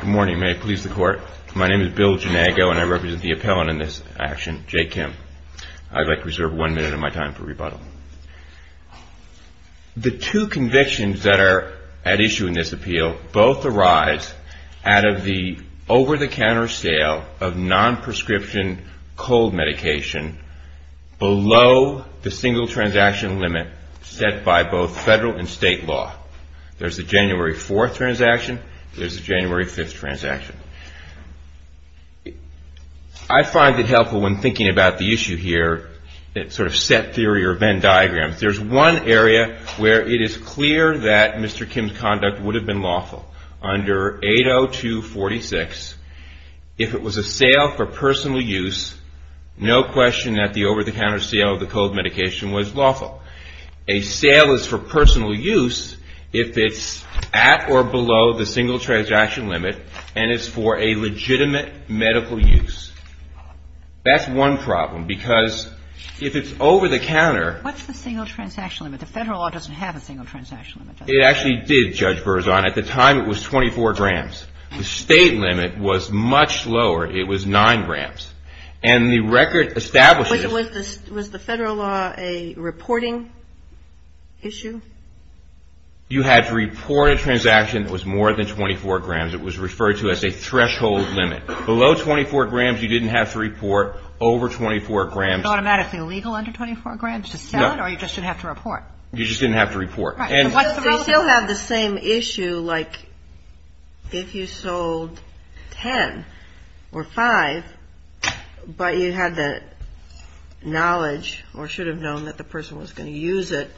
Good morning. May I please the court? My name is Bill Janago and I represent the appellant in this action, Jay Kim. I'd like to reserve one minute of my time for rebuttal. The two convictions that are at issue in this appeal both arise out of the over-the-counter sale of non-prescription cold medication below the single transaction limit set by both federal and state law. There's the January 4th transaction, there's the January 5th transaction. I find it helpful when thinking about the issue here, that sort of set theory or Venn diagram. There's one area where it is clear that Mr. Kim's conduct would have been lawful. Under 80246, if it was a sale for personal use, no question that the over-the-counter sale of the cold medication was lawful. A sale is for personal use if it's at or below the single transaction limit and it's for a legitimate medical use. That's one problem, because if it's over-the-counter What's the single transaction limit? The federal law doesn't have a single transaction limit, does it? It actually did, Judge Berzon. At the time, it was 24 grams. The state limit was much lower. It was 9 grams. And the record establishes Was the federal law a reporting issue? You had to report a transaction that was more than 24 grams. It was referred to as a threshold limit. Below 24 grams, you didn't have to report. Over 24 grams Is it automatically illegal under 24 grams to sell it, or you just didn't have to report? You just didn't have to report. We still have the same issue, like, if you sold 10 or 5, but you had the knowledge or should have known that the person was going to use it,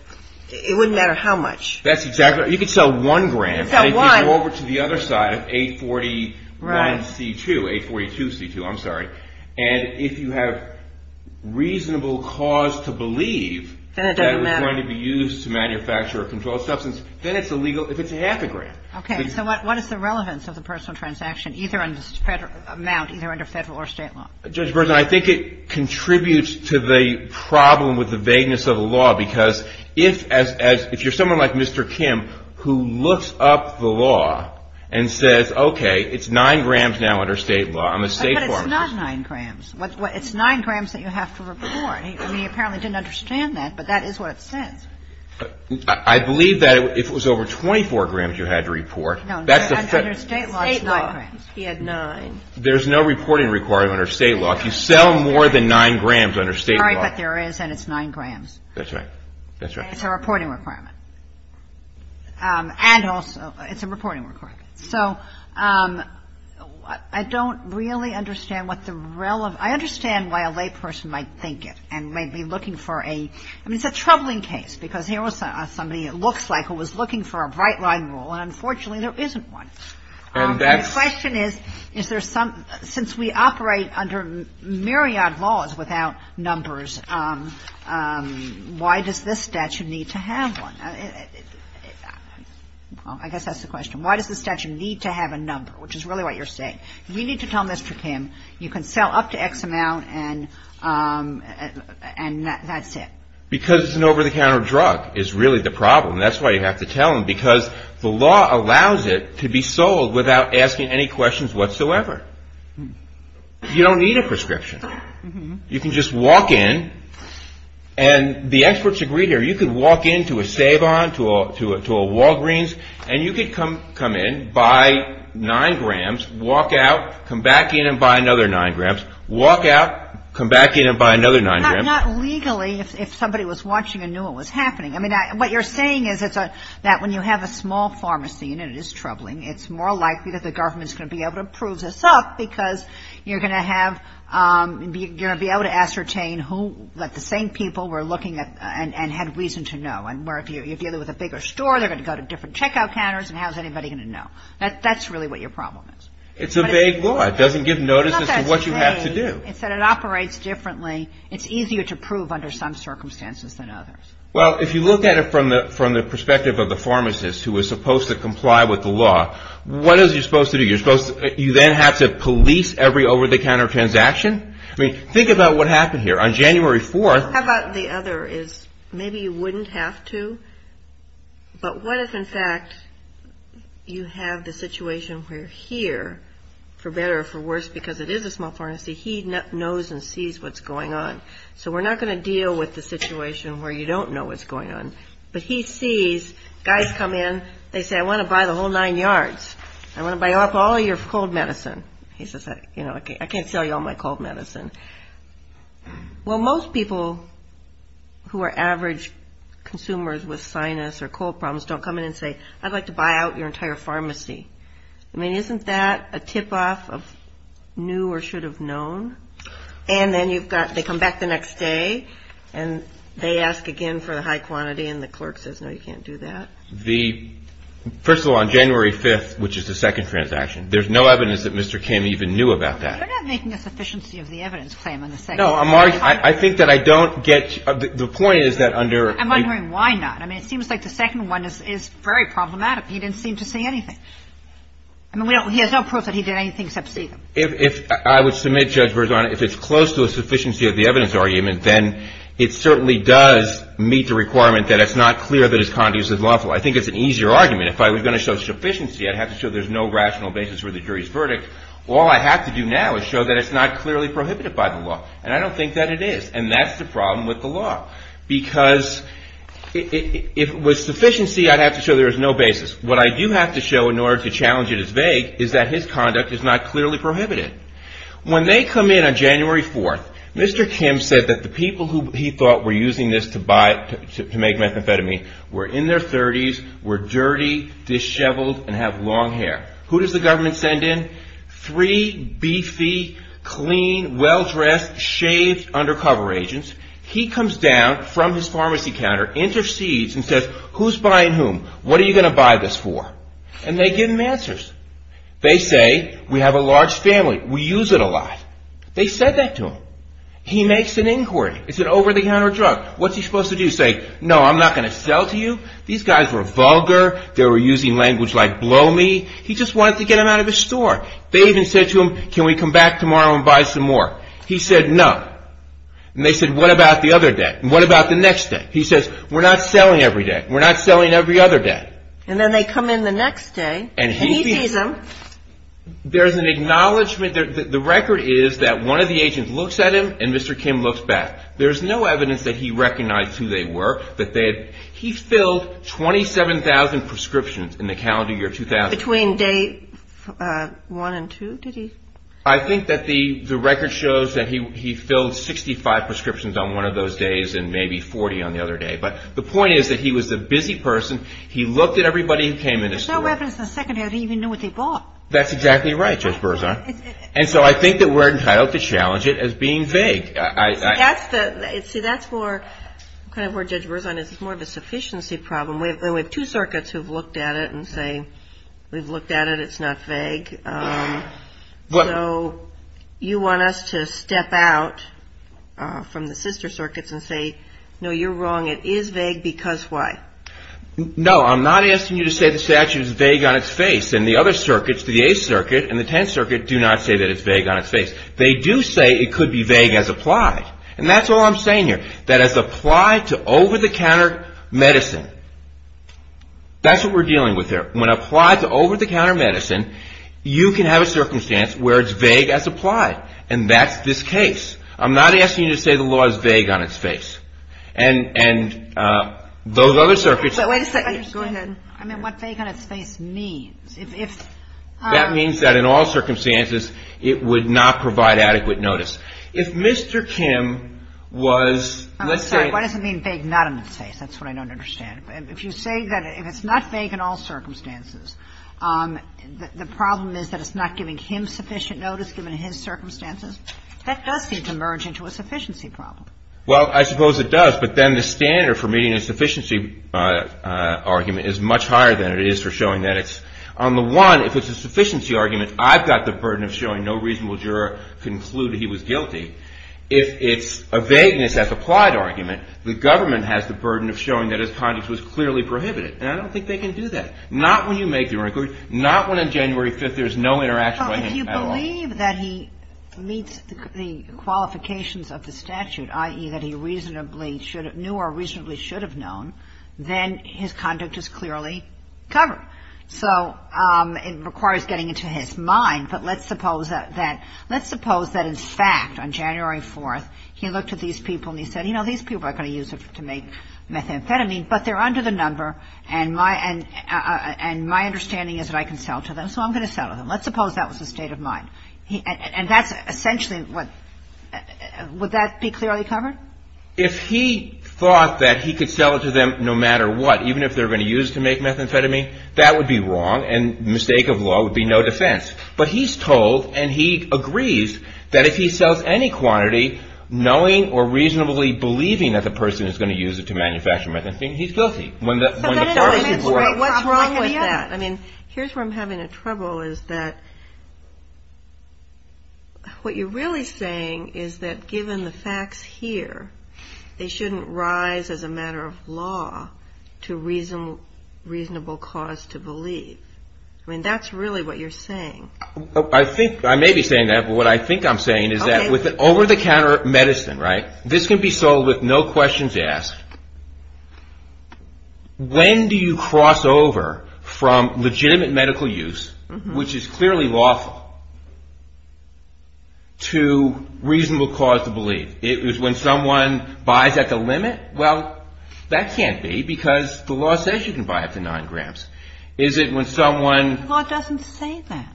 it wouldn't matter how much. That's exactly right. You could sell 1 gram, and it would go over to the other side of 841C2, 842C2, I'm sorry. And if you have reasonable cause to believe that it was going to be used to manufacture a controlled substance, then it's illegal if it's half a gram. Okay, so what is the relevance of the personal transaction, either under federal or state law? Judge Berzon, I think it contributes to the problem with the vagueness of the law, because if you're someone like Mr. Kim, who looks up the law and says, okay, it's 9 grams now under state law, I'm a state farmer. But it's not 9 grams. It's 9 grams that you have to report. He apparently didn't understand that, but that is what it says. I believe that if it was over 24 grams you had to report, that's the federal... No, under state law it's 9 grams. He had 9. There's no reporting requirement under state law. If you sell more than 9 grams under state law... Sorry, but there is, and it's 9 grams. That's right. That's right. And it's a reporting requirement. And also, it's a reporting requirement. Okay. So I don't really understand what the relevance – I understand why a layperson might think it and may be looking for a – I mean, it's a troubling case, because here was somebody, it looks like, who was looking for a bright-line rule, and unfortunately, there isn't one. The question is, is there some – since we operate under myriad laws without numbers, why does this statute need to have one? I guess that's the question, need to have a number, which is really what you're saying. You need to tell Mr. Kim, you can sell up to X amount and that's it. Because it's an over-the-counter drug is really the problem. That's why you have to tell him, because the law allows it to be sold without asking any questions whatsoever. You don't need a prescription. You can just walk in, and the experts agree here, you can walk in to a Savon, to a Walgreens, and you can come in, buy 9 grams, walk out, come back in and buy another 9 grams, walk out, come back in and buy another 9 grams. Not legally, if somebody was watching and knew what was happening. I mean, what you're saying is that when you have a small pharmacy, and it is troubling, it's more likely that the government's going to be able to prove this up, because you're going to have – you're looking at – and had reason to know. And where if you're dealing with a bigger store, they're going to go to different checkout counters, and how's anybody going to know? That's really what your problem is. It's a vague law. It doesn't give notice as to what you have to do. It's not that it's vague. It's that it operates differently. It's easier to prove under some circumstances than others. Well, if you look at it from the perspective of the pharmacist who is supposed to comply with the law, what is he supposed to do? You're supposed to – you then have to police every over-the-counter transaction? I mean, think about what happened here. On January 4th – How about the other is, maybe you wouldn't have to, but what if, in fact, you have the situation where here, for better or for worse, because it is a small pharmacy, he knows and sees what's going on. So we're not going to deal with the situation where you don't know what's going on. But he sees guys come in. They say, I want to buy the whole nine yards. I want to buy up all your cold medicine. He says, you know, I can't sell you all my cold medicine. Well, most people who are average consumers with sinus or cold problems don't come in and say, I'd like to buy out your entire pharmacy. I mean, isn't that a tip-off of new or should have known? And then you've got – they come back the next day, and they ask again for the high quantity, and the clerk says, no, you can't do that. The – first of all, on January 5th, which is the second transaction, there's no evidence that Mr. Kim even knew about that. You're not making a sufficiency of the evidence claim on the second one. No, I'm – I think that I don't get – the point is that under – I'm wondering why not. I mean, it seems like the second one is very problematic. He didn't seem to see anything. I mean, we don't – he has no proof that he did anything except see them. If – I would submit, Judge Berzano, if it's close to a sufficiency of the evidence argument, then it certainly does meet the requirement that it's not clear that his conduit is lawful. I think it's an easier argument. If I was going to show sufficiency, I'd have to show there's no rational basis for the jury's verdict. All I have to do now is show that it's not clearly prohibited by the law, and I don't think that it is, and that's the problem with the law, because if it was sufficiency, I'd have to show there's no basis. What I do have to show in order to challenge it as vague is that his conduct is not clearly prohibited. When they come in on January 4th, Mr. Kim said that the people who he thought were using this to buy – to make methamphetamine were in their 30s, were dirty, disheveled, and have long hair. Who does the government send in? Three beefy, clean, well-dressed, shaved undercover agents. He comes down from his pharmacy counter, intercedes, and says, Who's buying whom? What are you going to buy this for? And they give him answers. They say, We have a large family. We use it a lot. They said that to him. He makes an inquiry. It's an over-the-counter drug. What's he supposed to do? Say, No, I'm not going to sell to you? These guys were vulgar. They were using language like, Blow me. He just wanted to get them out of the store. They even said to him, Can we come back tomorrow and buy some more? He said, No. And they said, What about the other day? What about the next day? He says, We're not selling every day. We're not selling every other day. And then they come in the next day, and he sees them. There's an acknowledgment. The record is that one of the agents looks at him, and Mr. Kim looks back. There's no evidence that he recognized who they were. He filled 27,000 prescriptions in the calendar year 2000. Between day one and two, did he? I think that the record shows that he filled 65 prescriptions on one of those days and maybe 40 on the other day. But the point is that he was a busy person. He looked at everybody who came in the store. There's no evidence the second day that he even knew what they bought. That's exactly right, Judge Berzon. And so I think that we're entitled to challenge it as being vague. See, that's kind of where Judge Berzon is. It's more of a sufficiency problem. We have two circuits who have looked at it and say, We've looked at it. It's not vague. So you want us to step out from the sister circuits and say, No, you're wrong. It is vague because why? No, I'm not asking you to say the statute is vague on its face. And the other circuits, the 8th Circuit and the 10th Circuit, do not say that it's vague on its face. They do say it could be vague as applied. And that's all I'm saying here. That as applied to over-the-counter medicine, that's what we're dealing with here. When applied to over-the-counter medicine, you can have a circumstance where it's vague as applied. And that's this case. I'm not asking you to say the law is vague on its face. And those other circuits... Wait a second. Go ahead. I meant what vague on its face means. That means that in all circumstances, it would not provide adequate notice. If Mr. Kim was... I'm sorry. Why does it mean vague not on its face? That's what I don't understand. If you say that it's not vague in all circumstances, the problem is that it's not giving him sufficient notice given his circumstances? That does seem to merge into a sufficiency problem. Well, I suppose it does. But then the standard for meeting a sufficiency argument is much higher than it is for showing that on the one, if it's a sufficiency argument, I've got the burden of showing no reasonable juror concluded he was guilty. If it's a vagueness as applied argument, the government has the burden of showing that his conduct was clearly prohibited. And I don't think they can do that. Not when you make your inquiry. Not when on January 5th, there's no interaction by him at all. Well, if you believe that he meets the qualifications of the statute, i.e. that he reasonably knew or reasonably should have known, then his conduct is clearly covered. So it requires getting into his mind. But let's suppose that in fact, on January 4th, he looked at these people and he said, you know, these people are going to use it to make methamphetamine, but they're under the number and my understanding is that I can sell to them, so I'm going to sell to them. Let's suppose that was the state of mind. And that's essentially what, would that be clearly covered? If he thought that he could sell it to them no matter what, even if they're going to use it to make methamphetamine, that would be wrong and the mistake of law would be no defense. But he's told and he agrees that if he sells any quantity knowing or reasonably believing that the person is going to use it to manufacture methamphetamine, he's guilty. What's wrong with that? I mean, here's where I'm having trouble is that what you're really saying is that given the facts here, they shouldn't rise as a matter of law to reasonable cause to believe. I mean, that's really what you're saying. I may be saying that, but what I think I'm saying is that with an over-the-counter medicine, this can be sold with no questions asked. When do you cross over from legitimate medical use, which is clearly lawful, to reasonable cause to believe? When someone buys at the limit? Well, that can't be because the law says you can buy up to 9 grams. Is it when someone... The law doesn't say that.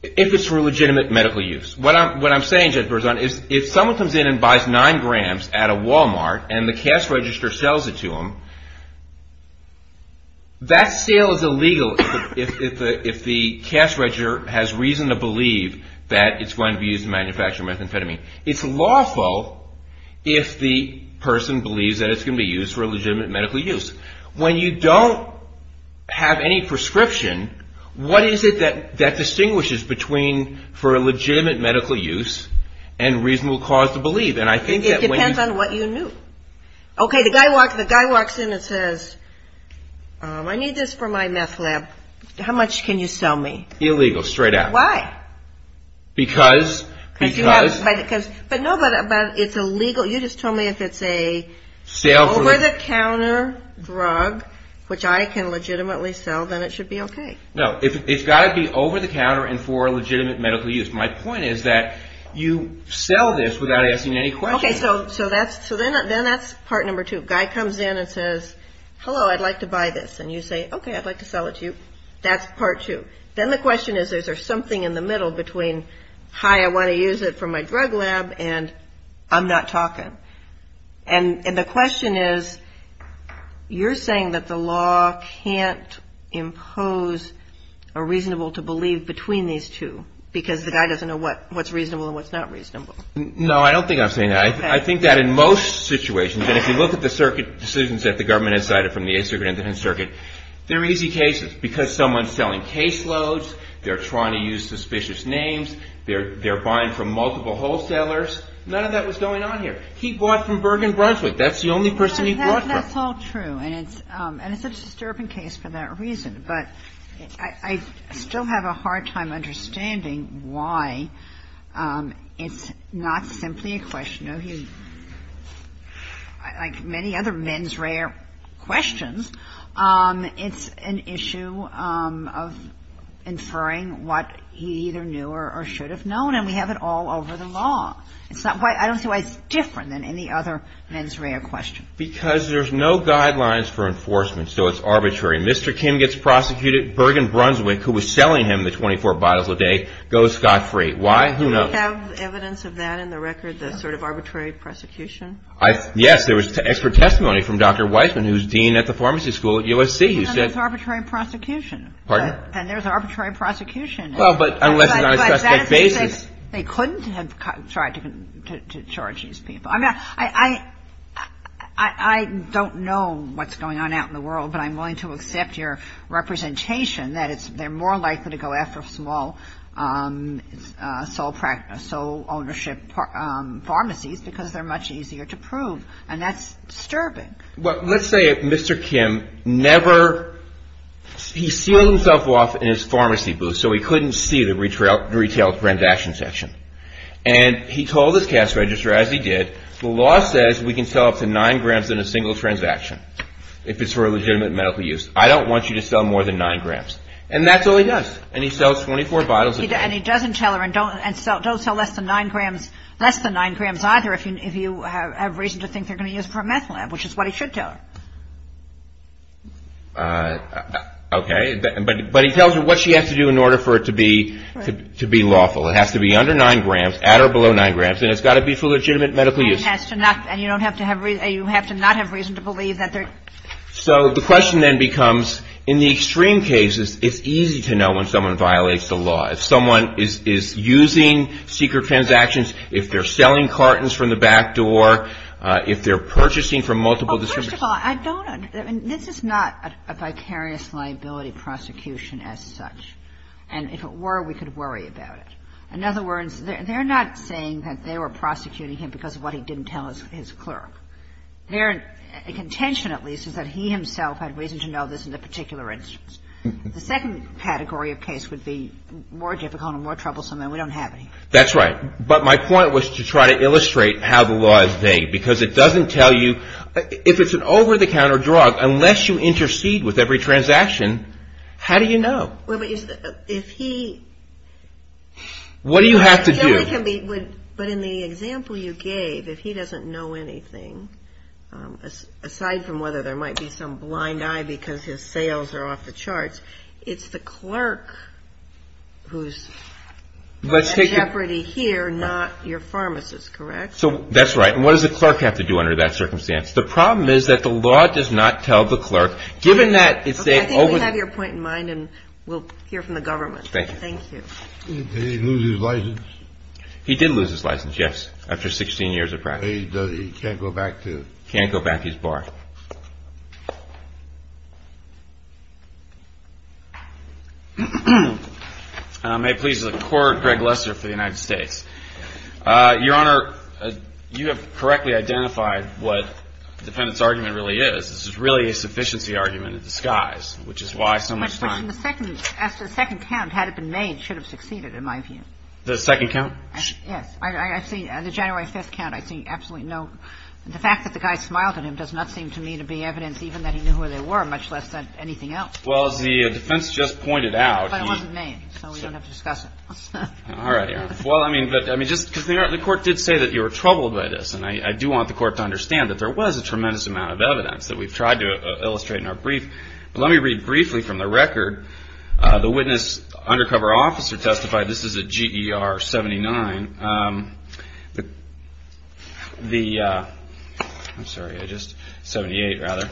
If it's for legitimate medical use. What I'm saying, Jennifer, is if someone comes in and buys 9 grams at a Walmart and the cash register sells it to them, that sale is illegal if the cash register has reason to believe that it's going to be used to manufacture methamphetamine. It's lawful if the person believes that it's going to be used for a legitimate medical use. When you don't have any prescription, what is it that distinguishes between for a legitimate medical use and reasonable cause to believe? It depends on what you knew. Okay, the guy walks in and says, I need this for my meth lab. How much can you sell me? Illegal, straight out. Why? Because... But no, but it's illegal. You just told me if it's a over-the-counter drug which I can legitimately sell, then it should be okay. No, it's got to be over-the-counter and for legitimate medical use. My point is that you sell this without asking any questions. Okay, so then that's part number two. Guy comes in and says, hello, I'd like to buy this. And you say, That's part two. Then the question is, is there something in the middle between, hi, I want to use it for my drug lab and I'm not talking. And the question is, you're saying that the law can't impose a reasonable to believe between these two because the guy doesn't know what's reasonable and what's not reasonable. No, I don't think I'm saying that. I think that in most situations and if you look at the circuit decisions that the government has decided from the 8th Circuit and the 10th Circuit, they're easy cases because someone's selling caseloads, they're trying to use suspicious names, they're buying from multiple wholesalers. None of that was going on here. He bought from Bergen Brunswick. That's the only person he bought from. That's all true. And it's a disturbing case for that reason. But I still have a hard time understanding why it's not simply a question of like many other men's rare questions, it's an issue of inferring what he either knew or should have known and we have it all over the law. I don't see why it's different than any other men's rare question. Because there's no guidelines for enforcement so it's arbitrary. Mr. Kim gets prosecuted. Bergen Brunswick, who was selling him the 24 bottles a day, goes scot-free. Why? Who knows? Do you have evidence of that in the record, the sort of arbitrary prosecution? Yes. There was expert testimony from Dr. Weissman who's dean at the pharmacy school at USC. And it's arbitrary prosecution. Pardon? And there's arbitrary prosecution. Well, but unless it's on a suspect basis. But that is to say they couldn't have tried to charge these people. I mean, I don't know what's going on out in the world but I'm willing to accept your representation that they're more likely to go after small sole ownership pharmacies because they're much easier to prove and that's disturbing. Well, let's say Mr. Kim never he sealed himself off in his pharmacy booth so he couldn't see the retail transaction section. And he told his cash register as he did the law says we can sell up to 9 grams in a single transaction if it's for a legitimate medical use. I don't want you to sell more than 9 grams. And that's all he does and he sells 24 bottles a day. And he doesn't tell her and don't sell less than 9 grams less than 9 grams either if you have reason to think they're going to use it for a meth lab which is what he should tell her. But he tells her what she has to do in order for it to be lawful. It has to be under 9 grams at or below 9 grams and it's got to be for legitimate medical use. And you have to not have reason to believe that they're So the question then becomes in the extreme cases it's easy to know when someone violates the law. If someone is using secret transactions if they're selling cartons from the back door if they're purchasing from multiple distributors First of all I don't this is not a vicarious liability prosecution as such and if it were we could worry about it. In other words they're not saying that they were prosecuting him because of what he didn't tell his clerk. Their contention at least is that he himself had reason to know this in a particular instance. The second category of case would be more difficult and more troublesome and we don't have any. That's right. But my point was to try to illustrate how the law is vague because it doesn't tell you if it's an over-the-counter drug unless you intercede with every transaction how do you know? What do you have to do? But in the example you gave if he doesn't know anything aside from whether there might be some blind eye because his sales are off the charts it's the clerk who's at jeopardy here not your pharmacist correct? That's right and what does the clerk have to do under that circumstance? The problem is that the law does not tell the clerk given that I think we have your point in mind and we'll hear from the government Thank you Did he lose his license? He did lose his license yes after 16 years of practice He can't go back to his bar May it please the Court Greg Lester for the United States Your Honor you have correctly identified what the defendant's argument really is this is really a sufficiency argument in disguise which is why so much time the second count had it been made should have succeeded in my view the second count yes I see the January 5th count I see absolutely no the fact that the guy smiled at him does not seem to me to be evidence even that he knew where they were much less than anything else well as the defense just pointed out but it wasn't made so we don't have to discuss it alright Your Honor well I mean the Court did say that you were troubled by this and I do want the Court to understand that there was a tremendous amount of evidence that we've tried to illustrate but let me read briefly from the record the witness undercover officer testified this is a GER 79 the I'm sorry 78 rather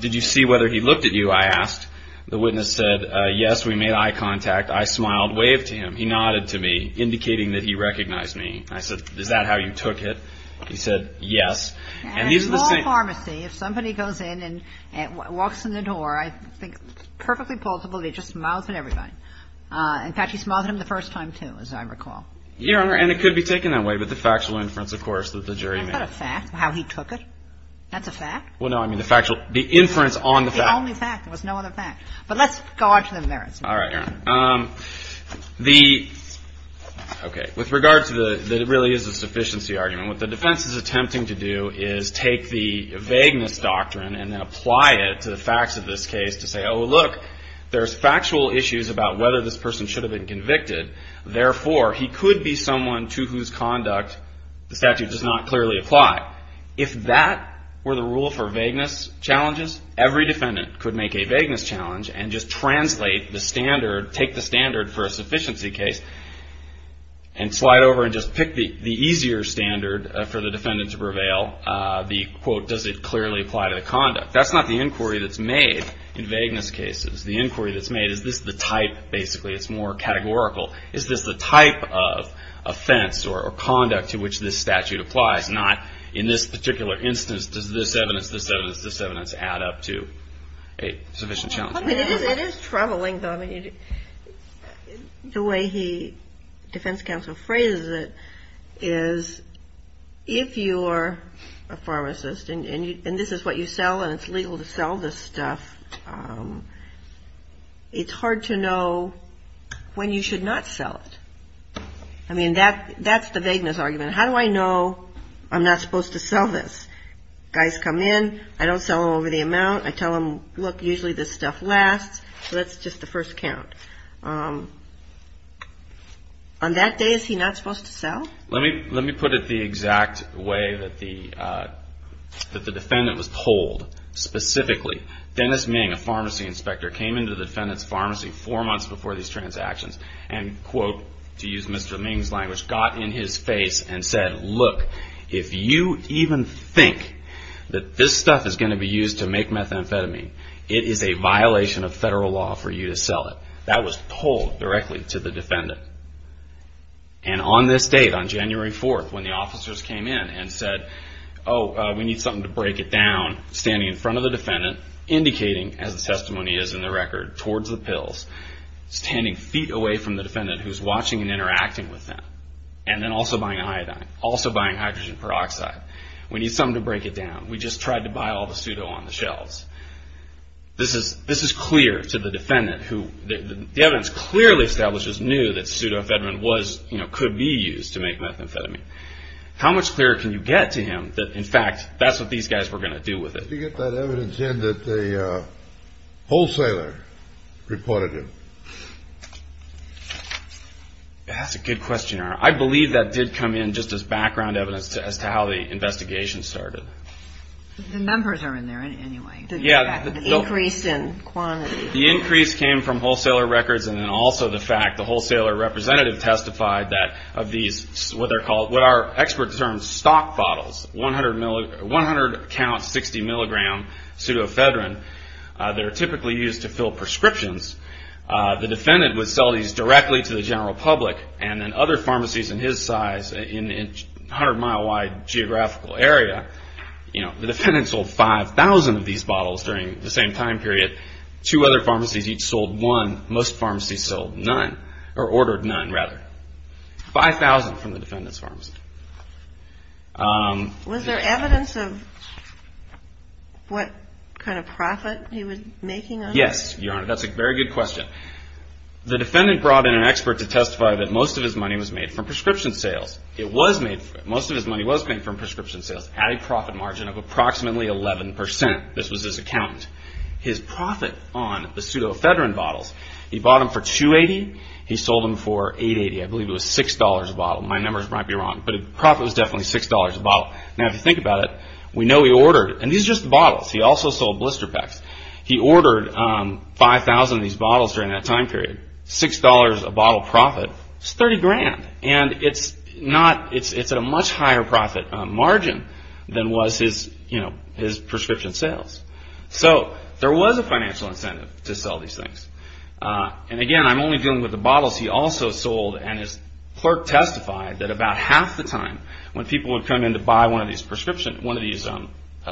did you see whether he looked at you I asked the witness said yes we made eye contact I smiled waved to him he nodded to me indicating that he recognized me I said is that how you took it he said yes at a small pharmacy if somebody goes in and walks in the door I think perfectly plausible they just smiled at everybody in fact he smiled at him the first time too as I recall Your Honor and it could be taken that way but the factual inference of course is that a fact how he took it that's a fact well no I mean the factual the inference on the fact the only fact there was no other fact but let's go on to the merits alright Your Honor um the okay with regard to the that it really is a sufficiency argument what the defense is attempting to do is take the vagueness doctrine and then apply it to the facts of this case to say oh look there's factual issues about whether this person should have been convicted therefore he could be someone to whose conduct the statute does not clearly apply if that were the rule for vagueness challenges every defendant could make a vagueness challenge and just translate the standard take the standard for a sufficiency case and slide over and just pick the easier standard for the defendant to prevail uh the quote does it clearly apply to the conduct that's not the inquiry that's made in vagueness cases the inquiry that's made is this the type basically it's more categorical is this the type of offense or conduct to which this statute applies not in this particular instance does this evidence this evidence this evidence add up to a sufficient challenge it is troubling the way he defense counsel phrases it is if you are a pharmacist and this is what you sell and it's legal to sell this stuff um it's hard to know when you should not sell it I mean that that's the vagueness argument how do I know I'm not supposed to sell this guys come in I don't sell them over the amount I tell them look usually this stuff lasts so that's just the first count um on that day is he not supposed to sell let me put it the exact way that the defendant was told specifically Dennis Ming a pharmacy inspector came into the defendant's pharmacy four months before these transactions and quote to use Mr. Ming's language got in his it is a violation of federal law for you to sell it that was told directly to the defendant and on this date on January 4th when the officers came in and said oh we need something to break it down standing in front of the defendant indicating as the testimony is in the this is clear to the defendant who the evidence clearly establishes knew that pseudo-amphetamine could be used to make methamphetamine how much clearer can you get to him that in fact that's what these guys were going to do with it did you get that evidence in that the wholesaler reported it that's a good questionnaire I believe that did come in just as background evidence as to how the investigation started the numbers are in there anyway the increase in quantity the increase came from wholesaler records and also the fact the wholesaler representative testified that these stock bottles 100 count 60 milligram pseudo-amphetamine typically used to fill prescriptions the defendant would sell these directly to the general public and other pharmacies in his size in geographical area the defendant sold 5,000 bottles during the same time period two other pharmacies each sold one most pharmacies sold none or ordered none rather 5,000 from the defendant's pharmacy was there evidence of what kind of profit he was making on this yes your honor that's a very good question the defendant brought in an expert to testify that most of his money was made from prescription sales at a profit margin of approximately 11% this was his accountant his profit on the pseudo-amphetamine bottles he bought 5,000 of these bottles during that time period 6 dollars a bottle profit was 30 grand it's a much higher profit margin than was his prescription sales so there was a financial incentive to sell these things I'm only dealing with the bottles he also sold and his clerk testified that about half the time when people would come in to buy one of these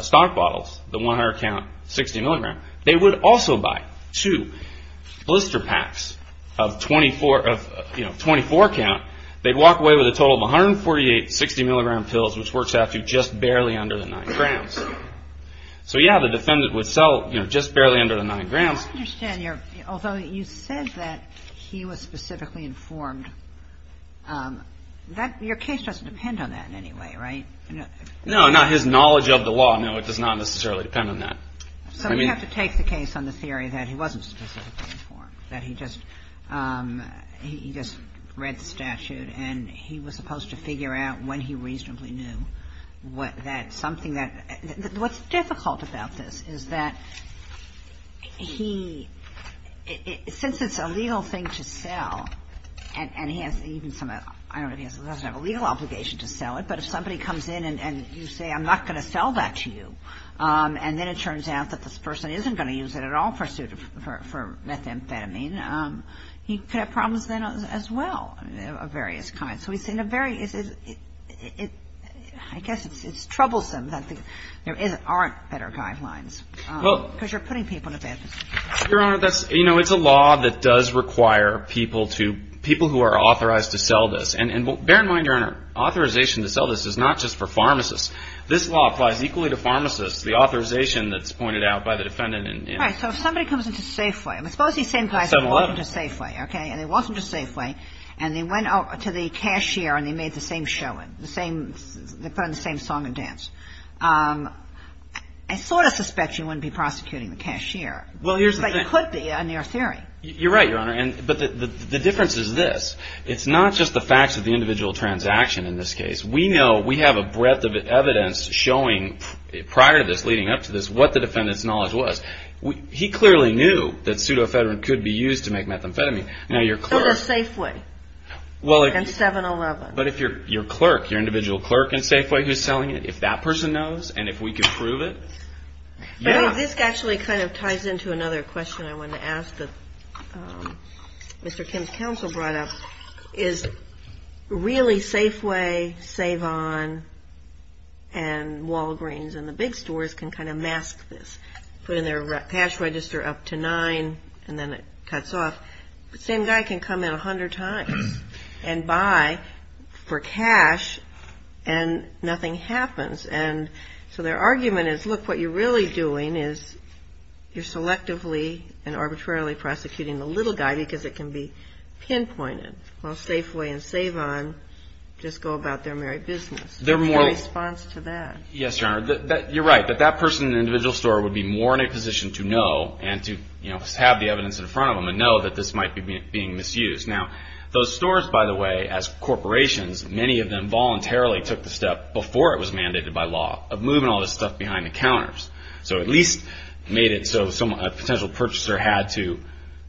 stock bottles the 100 count 60 mg they would also buy two blister packs of 24 count they'd walk away with a total of 148 60 mg pills which works out to just barely under the 9 grams so yeah the defendant would sell just barely under the 9 grams I understand although you said that he was specifically informed your case doesn't depend on that anyway right no not his knowledge of the law no it does not necessarily depend on that so we have a problem with this is that he since it's a legal thing to sell and he doesn't have a legal obligation to sell it but if somebody comes in and you say I'm not going to sell that to you and then it turns out that this is troublesome that there aren't better guidelines because you're putting people in a bad position your honor it's a law that does require people who are authorized to sell this and bear in mind your honor authorization to sell this is not just for pharmacists this law applies equally to pharmacists the authorization is not just but it's for the defense I sorta suspect you wouldn't be prosecuting the cashier but it could be a near theory you're right your honor the difference is this it's not just the individual transaction we know we have a breadth of evidence showing prior to this what the defendant's knowledge was he clearly knew that pseudoephedrine could be used to make methamphetamine now your clerk but if your clerk your individual clerk in Safeway who's selling it if that person knows and if we can prove it yeah this actually kind of ties into another question I want to ask that Mr. Kim's counsel brought up is really that Safeway Savon and Walgreens and the big stores can kind of mask this put in their cash register up to nine and then it cuts off the same guy can come in a hundred times and buy for cash and nothing happens and so their argument is look what you're really doing is you're selectively and arbitrarily prosecuting the little guy because it can be pinpointed while Safeway and Savon just go about their merry business they're more response to that yes your honor you're right that that person in the individual store would be more in a position to know and to you know have the evidence in front of them and know that this might be being misused now those stores by the way as corporations many of them voluntarily took the step before it was mandated by law of moving all this stuff behind the counters so at least a potential purchaser had to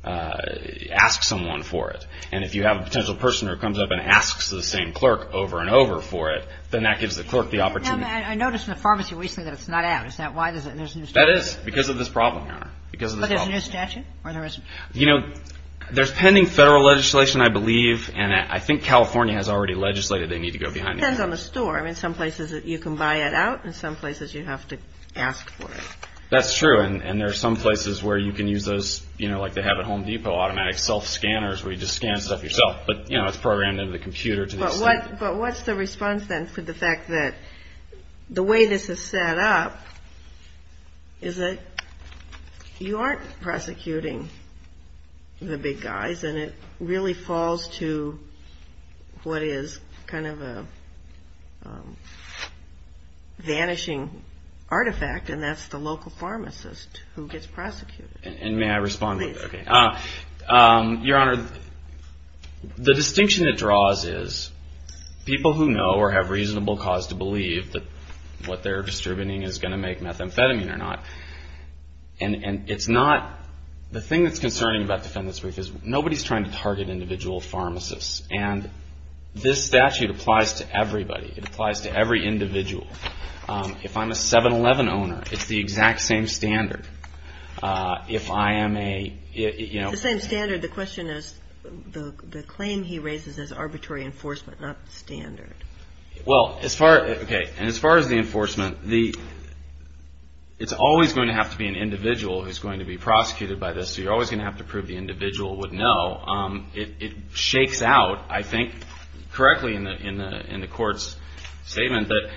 ask someone for it and if you have a potential person who comes up and asks the same clerk over and over for it then that gives the clerk the opportunity and I noticed in the pharmacy recently that it's not out is that why there's a new statute that is because of this problem your honor but there's a new statute or there isn't you know there's pending federal legislation I believe and I think California has already legislated they need to go behind the counters it depends on the store in some places you can buy it out in some places you have to ask for it that's true and there's some places where you can use those you know like they have at Home Depot automatic self scanners where you just scan stuff yourself but you know it's programmed into the computer but what's the response then for the fact that the way this is set up is that you aren't prosecuting the big guys and it really falls to what is kind of a vanishing artifact and that's the local pharmacist who gets prosecuted and may I respond your honor the distinction that draws is people who know or have reasonable cause to believe that what they're distributing is going to make methamphetamine or not and it's not the thing that's concerning about the defendant's brief is nobody's trying to target individual pharmacists and this statute applies to everybody it applies to every individual if I'm a 7-11 owner it's the it's always going to have to be an individual who's going to be prosecuted by this so you're always going to have to prove the individual would know it shakes out I think correctly in the court's statement that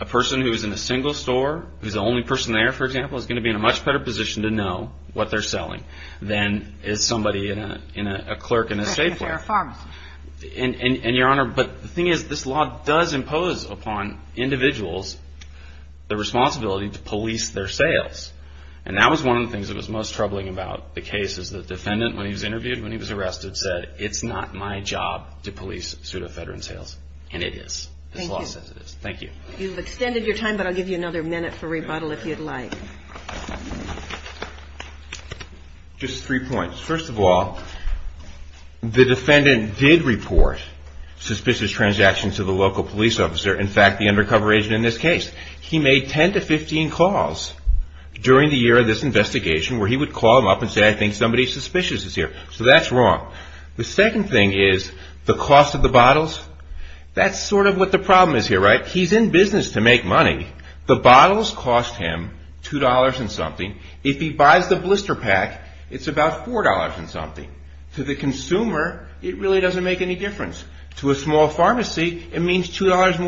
a person who is in a single store who's the only person there for example is going to be in a much better position to know what they're selling than is somebody in a clerk in a state place and your honor but the thing is this law does impose upon individuals the responsibility to police their sales and that was one of the things that was most troubling about the case. Let's go back just three points. First of all the defendant did report suspicious transactions to the local police officer in fact the undercover agent in this case. He made 10 to 15 calls during the year of this investigation where he would call him up and say I think somebody suspicious is here. So that's wrong. The second thing is the cost of the bottles. That's sort of what the problem is here. He's in business to make money. The bottles cost him two dollars and something. If he buys the blister pack it's about four dollars and something. To the consumer it really doesn't make any difference. To a small pharmacy it means two dollars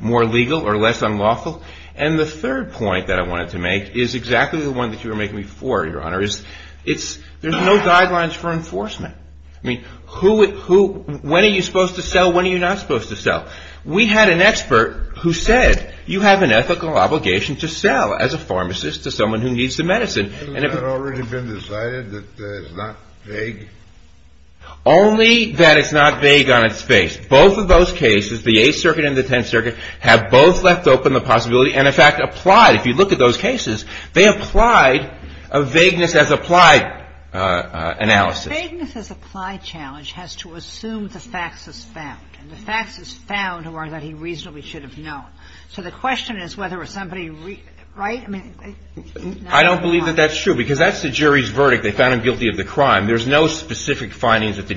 more legal or less unlawful. And the third point that I wanted to make is exactly the one that you were making before, Your Honor. There's no guidelines for enforcement. When are you supposed to sell? When are you not supposed to sell? We had an expert who said you have an ethical obligation to sell as a pharmacist to someone who needs the medicine. And that's did. The medicine has already been decided that it's not vague? Only that it's not vague on its face. Both of those cases, the Eighth Circuit and the Tenth Circuit, have both left open the possibility and in fact applied. If you look at those cases they applied a vagueness as applied analysis. The vagueness as applied challenge has to assume the facts as found. And the facts as found are that he reasonably should have known. So the question is whether somebody right? I don't believe that that's true because that's the jury's verdict. They found him guilty of the crime. There's no specific So they look at that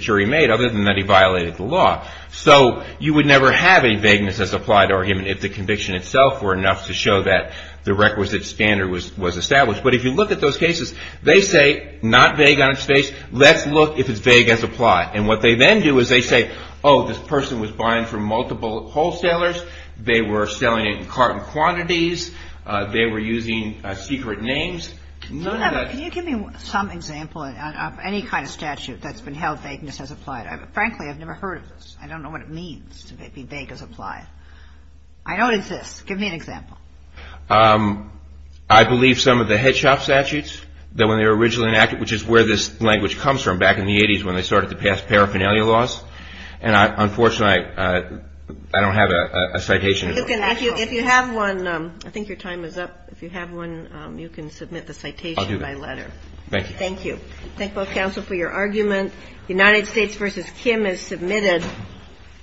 look if it's vague as applied. And what they then do is they say oh this person was buying from multiple wholesalers. They were selling it in carton quantities. They were using secret names. None of that. Can you give me some example of any kind of statute that's been held vagueness as applied. Frankly I've never heard of this. I don't know what it means to be vague as applied. I know it exists. Give me an example. I believe some of the head shop statutes that when they were originally enacted which is where this statute there's paragraph where it you should not be vague. You should not be vague as applied. So I'm not vague as applied. Okay. Thank you.